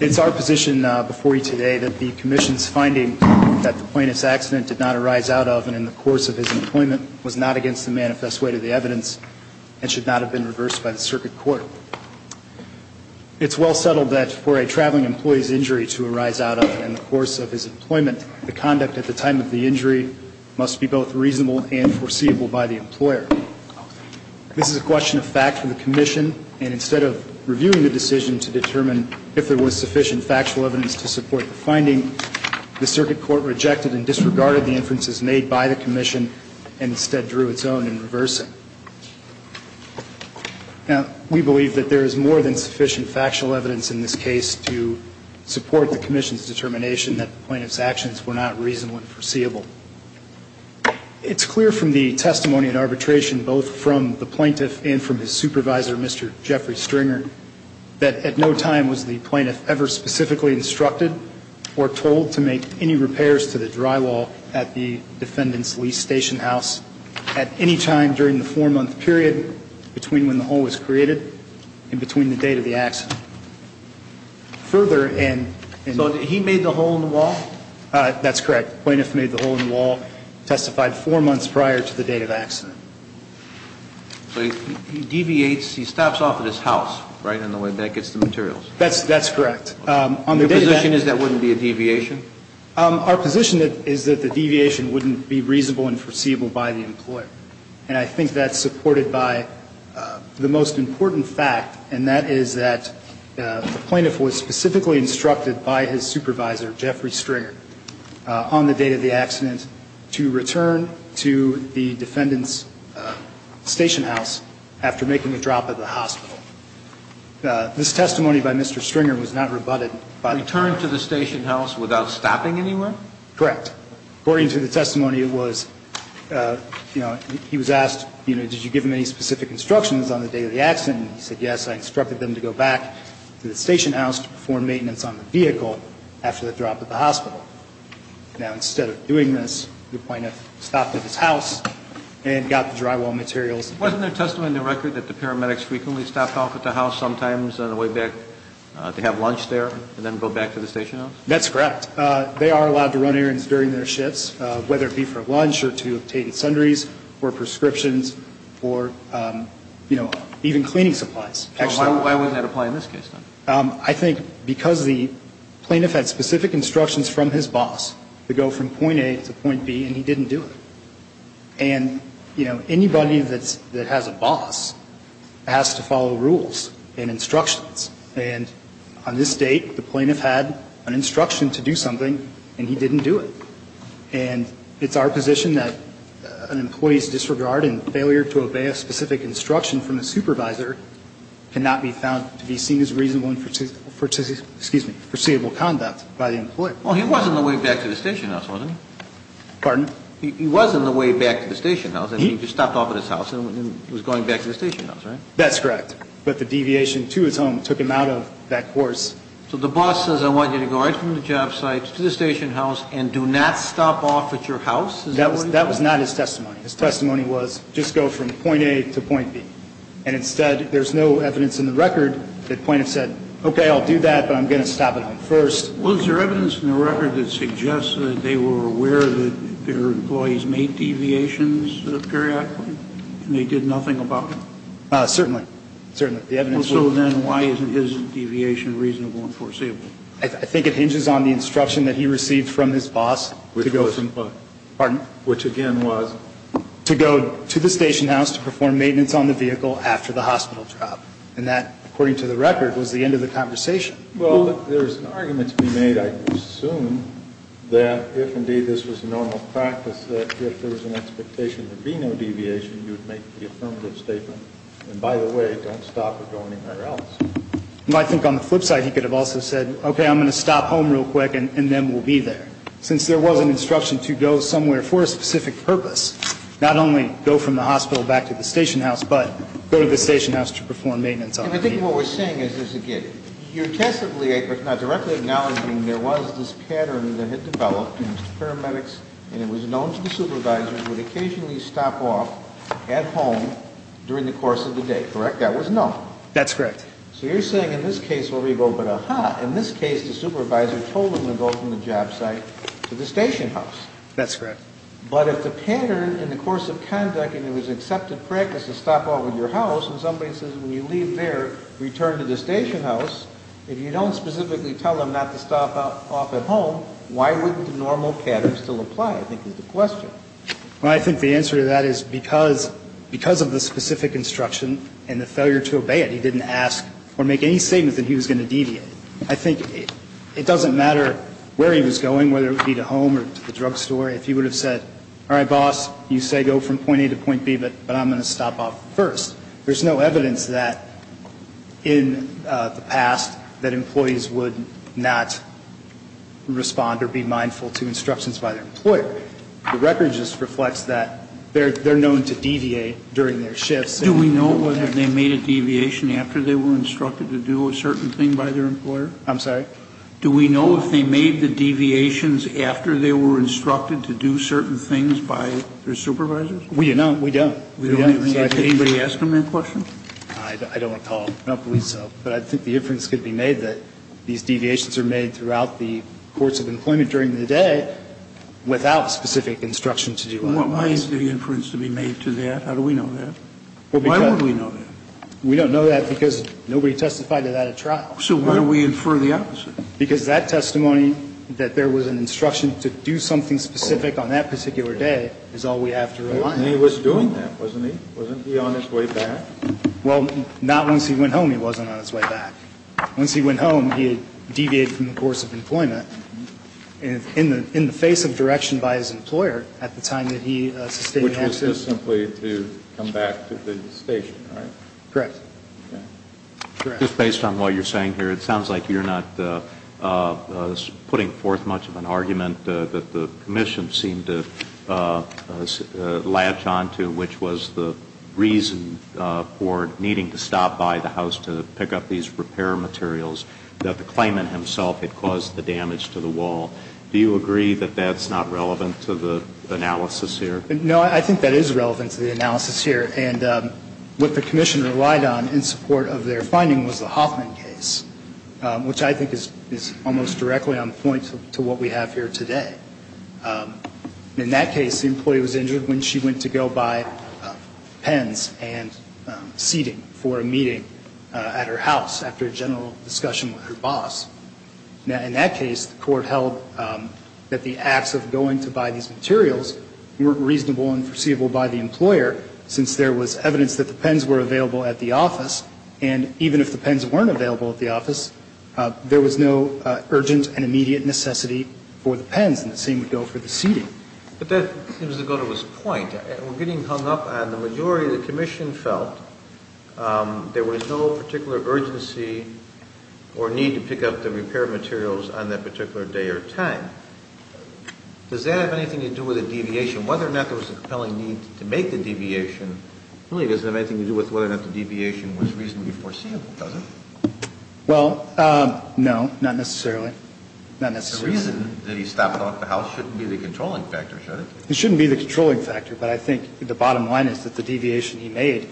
It's our position before you today that the Commission's finding that the plaintiff's accident did not arise out of and in the course of his employment was not against the manifest way to the evidence and should not have been reversed by the circuit court. It's well settled that for a traveling employee's injury to arise out of in the course of his employment the conduct at the time of the injury must be both reasonable and foreseeable by the employer. This is a question of fact for the Commission and instead of reviewing the decision to if there was sufficient factual evidence to support the finding the circuit court rejected and disregarded the inferences made by the Commission and instead drew its own in reversing. Now we believe that there is more than sufficient factual evidence in this case to support the Commission's determination that the plaintiff's actions were not reasonable and foreseeable. It's clear from the testimony and arbitration both from the plaintiff and from his supervisor Mr. Jeffrey Stringer that at no time was the plaintiff ever specifically instructed or told to make any repairs to the drywall at the defendant's lease station house at any time during the four-month period between when the hole was created and between the date of the accident. Further and... So he made the hole in the wall? That's correct. Plaintiff made the hole in the wall, testified four months prior to the date of accident. So he deviates, he stops off at his house right in the way that gets the materials? That's correct. Your position is that wouldn't be a deviation? Our position is that the deviation wouldn't be reasonable and foreseeable by the employer. And I think that's supported by the most important fact, and that is that the plaintiff was specifically instructed by his supervisor, Jeffrey Stringer, on the date of the accident to return to the defendant's station house after making a drop at the hospital. This testimony by Mr. Stringer was not rebutted by the plaintiff. Return to the station house without stopping anywhere? Correct. According to the testimony, it was, you know, he was asked, you know, did you give him any specific instructions on the day of the accident? And he said, yes, I instructed them to go back to the station house to perform maintenance on the vehicle after the drop at the hospital. Now, instead of doing this, the plaintiff stopped at his house and got the drywall materials. Wasn't there testimony in the record that the paramedics frequently stopped off at the house sometimes on the way back to have lunch there and then go back to the station house? That's correct. They are allowed to run errands during their shifts, whether it be for lunch or to obtain sundries or prescriptions or, you know, even cleaning supplies. So why wouldn't that apply in this case? I think because the plaintiff had specific instructions from his boss to go from the station house to the hospital. And, you know, anybody that has a boss has to follow rules and instructions. And on this date, the plaintiff had an instruction to do something, and he didn't do it. And it's our position that an employee's disregard and failure to obey a specific instruction from the supervisor cannot be found to be seen as reasonable and, excuse me, foreseeable conduct by the employee. Well, he wasn't on the way back to the station house, was he? Pardon? He wasn't on the way back to the station house. He just stopped off at his house and was going back to the station house, right? That's correct. But the deviation to his home took him out of that course. So the boss says, I want you to go right from the job site to the station house and do not stop off at your house? That was not his testimony. His testimony was just go from point A to point B. And instead, there's no evidence in the record that the plaintiff said, okay, I'll do that, but I'm going to stop at home first. Was there evidence in the record that suggests that they were aware that their employees made deviations periodically and they did nothing about it? Certainly. Certainly. So then why isn't his deviation reasonable and foreseeable? I think it hinges on the instruction that he received from his boss. Which was what? Pardon? Which again was? To go to the station house to perform maintenance on the vehicle after the hospital drop. And that, according to the record, was the end of the conversation. Well, there's an argument to be made, I assume, that if indeed this was normal practice, that if there was an expectation there'd be no deviation, you'd make the affirmative statement. And by the way, don't stop at going anywhere else. I think on the flip side, he could have also said, okay, I'm going to stop home real quick and then we'll be there. Since there was an instruction to go somewhere for a specific purpose, not only go from the hospital back to the station house, but go to the station house to perform maintenance on the vehicle. What we're saying is this again. You're testably, if not directly acknowledging, there was this pattern that had developed in paramedics and it was known to the supervisors would occasionally stop off at home during the course of the day, correct? That was known. That's correct. So you're saying in this case, wherever you go, but aha, in this case, the supervisor told him to go from the job site to the station house. That's correct. But if the pattern in the course of conduct and it was accepted practice to stop off at your house and somebody says when you leave there, return to the station house, if you don't specifically tell them not to stop off at home, why wouldn't the normal pattern still apply, I think is the question. Well, I think the answer to that is because of the specific instruction and the failure to obey it, he didn't ask or make any statement that he was going to deviate. I think it doesn't matter where he was going, whether it would be to home or to the drugstore, if he would have said, all right, boss, you say go from point A to point B, but I'm going to stop off first. There's no evidence that in the past that employees would not respond or be mindful to instructions by their employer. The record just reflects that they're known to deviate during their shifts. Do we know whether they made a deviation after they were instructed to do a certain thing by their employer? I'm sorry? Do we know if they made the deviations after they were instructed to do certain things by their supervisors? We don't. We don't. We don't. Did anybody ask him that question? I don't recall. I don't believe so. But I think the inference could be made that these deviations are made throughout the course of employment during the day without specific instruction to do otherwise. Why is the inference to be made to that? How do we know that? Why would we know that? We don't know that because nobody testified to that at trial. So why do we infer the opposite? Because that testimony, that there was an instruction to do something specific on that particular day, is all we have to know. And he was doing that, wasn't he? Wasn't he on his way back? Well, not once he went home he wasn't on his way back. Once he went home, he had deviated from the course of employment in the face of direction by his employer at the time that he sustained the action. Which was just simply to come back to the station, right? Correct. Just based on what you're saying here, it sounds like you're not putting forth much of an argument that the commission seemed to latch onto, which was the reason for needing to stop by the house to pick up these repair materials that the claimant himself had caused the damage to the wall. Do you agree that that's not relevant to the analysis here? No, I think that is relevant to the analysis here. And what the commission relied on in support of their finding was the Hoffman case, which I think is almost directly on point to what we have here today. In that case, the employee was injured when she went to go buy pens and seating for a meeting at her house after a general discussion with her boss. In that case, the court held that the acts of going to buy these materials weren't reasonable and foreseeable by the employer since there was evidence that the there was no urgent and immediate necessity for the pens and the same would go for the seating. But that seems to go to his point. We're getting hung up on the majority of the commission felt there was no particular urgency or need to pick up the repair materials on that particular day or time. Does that have anything to do with a deviation? Whether or not there was a compelling need to make the deviation really doesn't have anything to do with whether or not the deviation was reasonably foreseeable, does it? Well, no, not necessarily. Not necessarily. The reason that he stopped off the house shouldn't be the controlling factor, should it? It shouldn't be the controlling factor. But I think the bottom line is that the deviation he made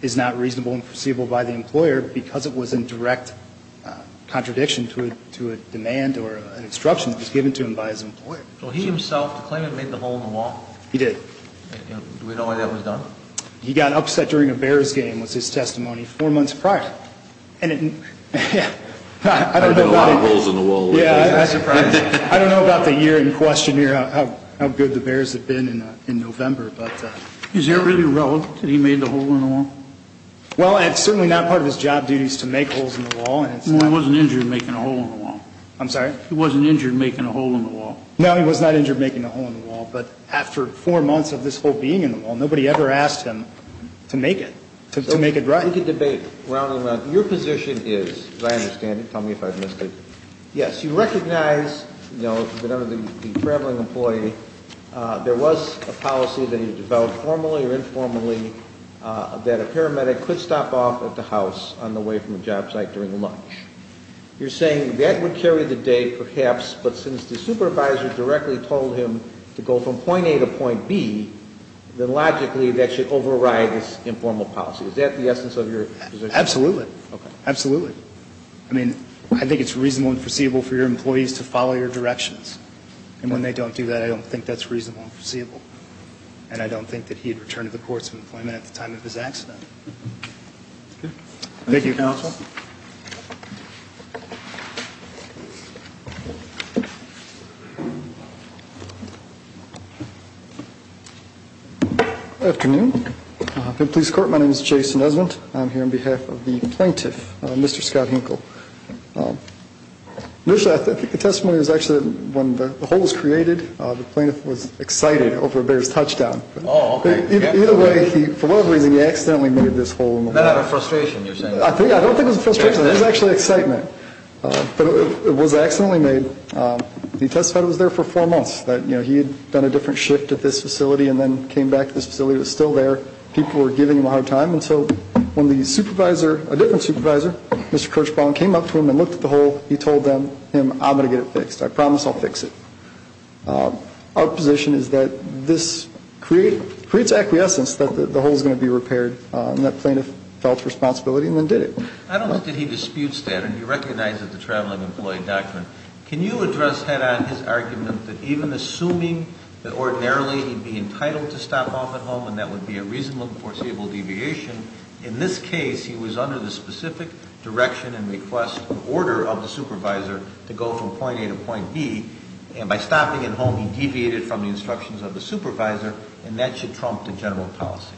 is not reasonable and foreseeable by the employer because it was in direct contradiction to a demand or an instruction that was given to him by his employer. Well, he himself claimed he made the hole in the wall. He did. Do we know why that was done? He got upset during a Bears game was his testimony four months prior. And I don't know about the year in question here how good the Bears have been in November. But is it really relevant that he made the hole in the wall? Well, it's certainly not part of his job duties to make holes in the wall. And I wasn't injured making a hole in the wall. I'm sorry? He wasn't injured making a hole in the wall. No, he was not injured making a hole in the wall. But after four months of this hole being in the wall, nobody ever asked him to make it to make it right. We could debate round and round. Your position is, as I understand it, tell me if I've missed it. Yes, you recognize that under the traveling employee, there was a policy that he developed formally or informally that a paramedic could stop off at the house on the way from the job site during lunch. You're saying that would carry the day, perhaps. But since the supervisor directly told him to go from point A to point B, then logically that should override this informal policy. Is that the essence of your position? Absolutely. OK. Absolutely. I mean, I think it's reasonable and foreseeable for your employees to follow your directions. And when they don't do that, I don't think that's reasonable and foreseeable. And I don't think that he had returned to the courts of employment at the time of his accident. Thank you, counsel. Good afternoon. In police court, my name is Jason Esmond. I'm here on behalf of the plaintiff, Mr. Scott Hinkle. Initially, I think the testimony was actually when the hole was created, the plaintiff was excited over a bear's touchdown. Oh, OK. Either way, for whatever reason, he accidentally made this hole in the wall. Not out of frustration, you're saying? I don't think it was frustration. It was actually excitement. But it was accidentally made. He testified he was there for four months, that he had done a different shift at this people were giving him a hard time. And so when the supervisor, a different supervisor, Mr. Kirchbaum, came up to him and looked at the hole, he told them, him, I'm going to get it fixed. I promise I'll fix it. Our position is that this creates acquiescence that the hole is going to be repaired. And that plaintiff felt responsibility and then did it. I don't think that he disputes that. And you recognize that the Traveling Employee Doctrine. Can you address head-on his argument that even assuming that ordinarily he'd be entitled to stop off at home and that would be a reasonable and foreseeable deviation. In this case, he was under the specific direction and request of order of the supervisor to go from point A to point B. And by stopping at home, he deviated from the instructions of the supervisor. And that should trump the general policy.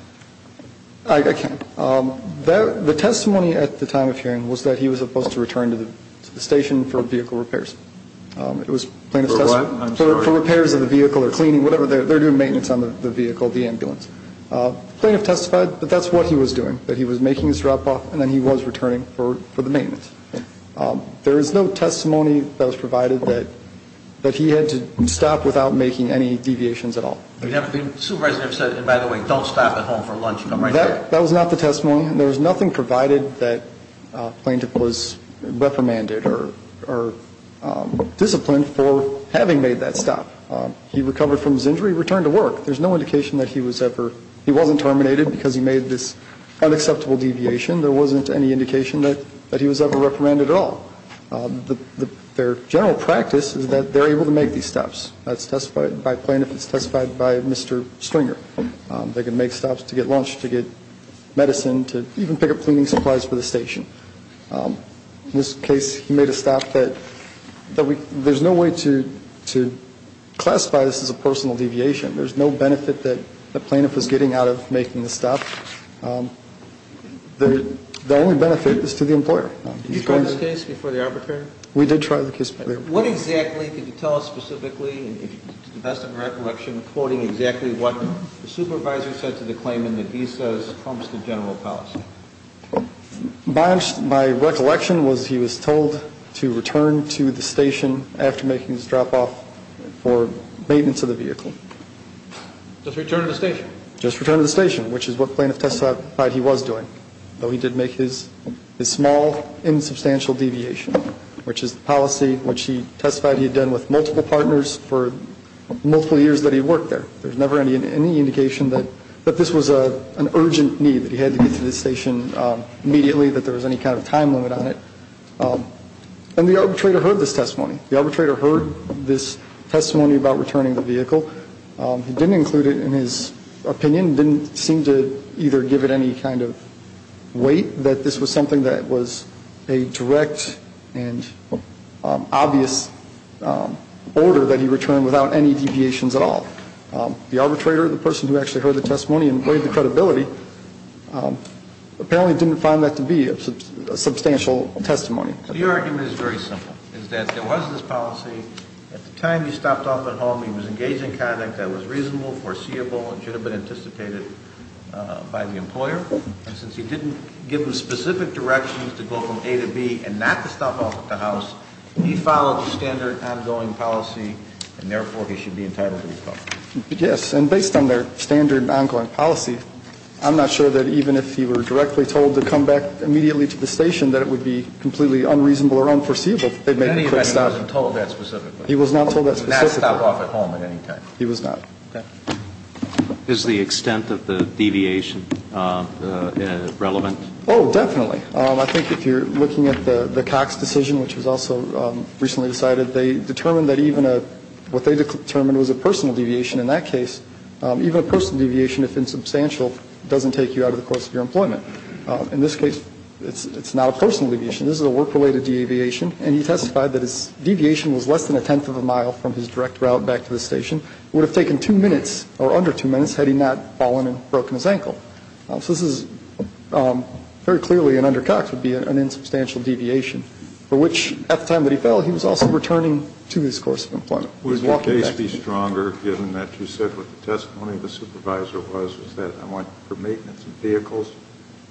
I can. The testimony at the time of hearing was that he was supposed to return to the station for vehicle repairs. It was plaintiff's testimony for repairs of the vehicle or cleaning, whatever. They're doing maintenance on the vehicle, the ambulance. Plaintiff testified that that's what he was doing, that he was making his drop off. And then he was returning for the maintenance. There is no testimony that was provided that he had to stop without making any deviations at all. Supervisor said, and by the way, don't stop at home for lunch. That was not the testimony. There was nothing provided that plaintiff was reprimanded or disciplined for having made that stop. He recovered from his injury, returned to work. There's no indication that he was ever, he wasn't terminated because he made this unacceptable deviation. There wasn't any indication that he was ever reprimanded at all. Their general practice is that they're able to make these steps. That's testified by plaintiff. It's testified by Mr. Stringer. They can make stops to get lunch, to get medicine, to even pick up cleaning supplies for the station. In this case, he made a stop that, that we, there's no way to, to classify this as a personal deviation. There's no benefit that the plaintiff was getting out of making the stop. The only benefit is to the employer. Did you try this case before the arbitrator? We did try the case. What exactly, could you tell us specifically, to the best of my recollection, quoting exactly what the supervisor said to the claimant that he says prompts the general policy? My, my recollection was he was told to return to the station after making this drop off for maintenance of the vehicle. Just return to the station? Just return to the station, which is what plaintiff testified he was doing. Though he did make his, his small, insubstantial deviation, which is the policy which he testified he had done with multiple partners for multiple years that he worked there. There's never any, any indication that, that this was a, an urgent need that he had to get to the station immediately, that there was any kind of time limit on it. And the arbitrator heard this testimony. The arbitrator heard this testimony about returning the vehicle. He didn't include it in his opinion, didn't seem to either give it any kind of weight that this was something that was a direct and obvious order that he returned without any deviations at all. The arbitrator, the person who actually heard the testimony and weighed the apparently didn't find that to be a substantial testimony. So your argument is very simple, is that there was this policy at the time you stopped off at home, he was engaged in conduct that was reasonable, foreseeable, and should have been anticipated by the employer. And since he didn't give them specific directions to go from A to B and not to stop off at the house, he followed the standard ongoing policy and therefore he should be entitled to recover. Yes. And based on their standard ongoing policy, I'm not sure that even if he were directly told to come back immediately to the station, that it would be completely unreasonable or unforeseeable. But he wasn't told that specifically. He was not told that specifically. He was not stopped off at home at any time. He was not. Is the extent of the deviation relevant? Oh, definitely. I think if you're looking at the Cox decision, which was also recently decided, they determined it was a personal deviation in that case. Even a personal deviation, if insubstantial, doesn't take you out of the course of your employment. In this case, it's not a personal deviation. This is a work-related deviation. And he testified that his deviation was less than a tenth of a mile from his direct route back to the station. It would have taken two minutes, or under two minutes, had he not fallen and broken his ankle. So this is very clearly, and under Cox, would be an insubstantial deviation. For which, at the time that he fell, he was also returning to his course of employment. Would the case be stronger, given that you said what the testimony of the supervisor was, was that, I want for maintenance of vehicles,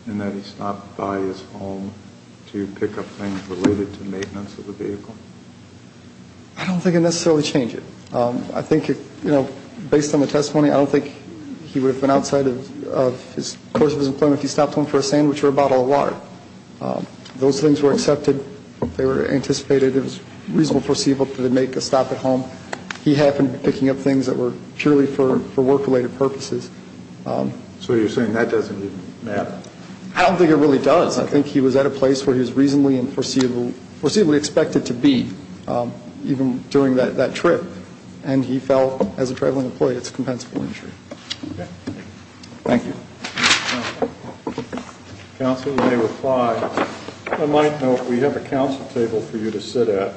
and that he stopped by his home to pick up things related to maintenance of the vehicle? I don't think it would necessarily change it. I think, you know, based on the testimony, I don't think he would have been outside of his course of his employment if he stopped home for a sandwich or a bottle of water. Those things were accepted. They were anticipated. It was reasonably foreseeable that he would make a stop at home. He happened to be picking up things that were purely for work-related purposes. So you're saying that doesn't even matter? I don't think it really does. I think he was at a place where he was reasonably and foreseeably expected to be, even during that trip. And he fell as a traveling employee. It's a compensable injury. Thank you. Counsel, you may reply. I might note, we have a council table for you to sit at.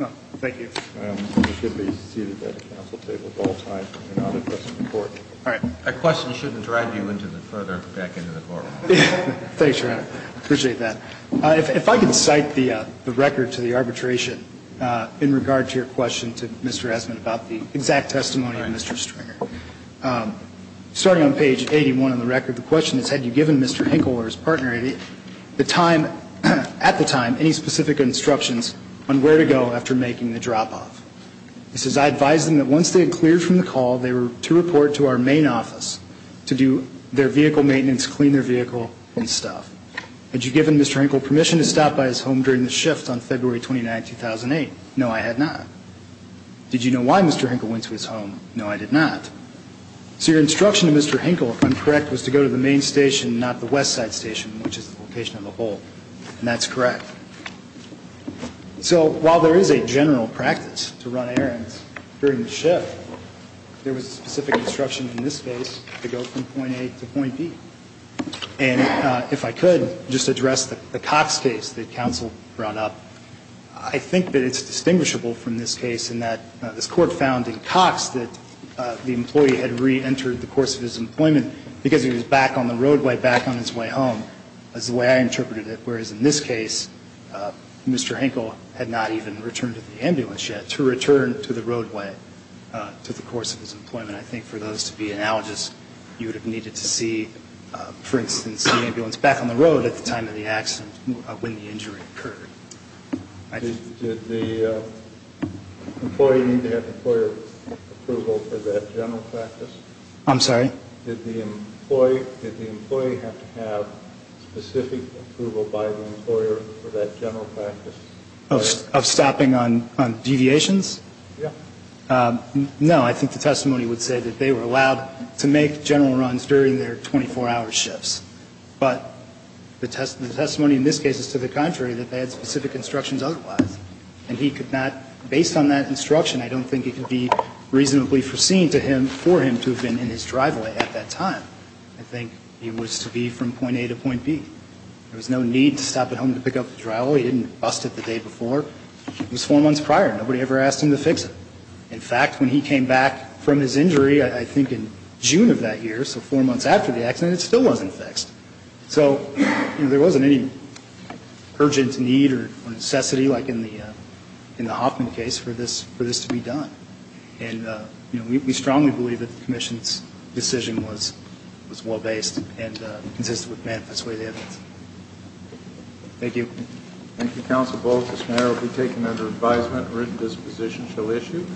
Well, thank you. You should be seated at a council table at all times. You're not addressing the Court. All right. A question shouldn't drive you further back into the Court. Thanks, Your Honor. I appreciate that. If I can cite the record to the arbitration in regard to your question to Mr. Esmond about the exact testimony of Mr. Stringer. Starting on page 81 on the record, the question is, had you given Mr. Hinkle or his partner the time, at the time, any specific instructions on where to go after making the drop-off? It says, I advised them that once they had cleared from the call, they were to report to our main office to do their vehicle maintenance, clean their vehicle, and stuff. Had you given Mr. Hinkle permission to stop by his home during the shift on February 29, 2008? No, I had not. Did you know why Mr. Hinkle went to his home? No, I did not. So your instruction to Mr. Hinkle, if I'm correct, was to go to the main station, not the west side station, which is the location of the hole. And that's correct. So while there is a general practice to run errands during the shift, there was a specific instruction in this case to go from point A to point B. And if I could just address the Cox case that counsel brought up. I think that it's distinguishable from this case in that this Court found in Cox that the employee had re-entered the course of his employment because he was back on the way home, is the way I interpreted it. Whereas in this case, Mr. Hinkle had not even returned to the ambulance yet, to return to the roadway to the course of his employment. I think for those to be analogous, you would have needed to see, for instance, the ambulance back on the road at the time of the accident when the injury occurred. Did the employee need to have employer approval for that general practice? I'm sorry? Did the employee have to have specific approval by the employer for that general practice? Of stopping on deviations? Yeah. No. I think the testimony would say that they were allowed to make general runs during their 24-hour shifts. But the testimony in this case is to the contrary, that they had specific instructions otherwise. And he could not, based on that instruction, I don't think it could be reasonably foreseen for him to have been in his driveway at that time. I think he was to be from point A to point B. There was no need to stop at home to pick up the drywall. He didn't bust it the day before. It was four months prior. Nobody ever asked him to fix it. In fact, when he came back from his injury, I think in June of that year, so four months after the accident, it still wasn't fixed. So there wasn't any urgent need or necessity like in the Hoffman case for this to be done. And we strongly believe that the commission's decision was well-based and consistent with Manifest Way's evidence. Thank you. Thank you, Counsel Bullock. This matter will be taken under advisement. Written disposition shall issue.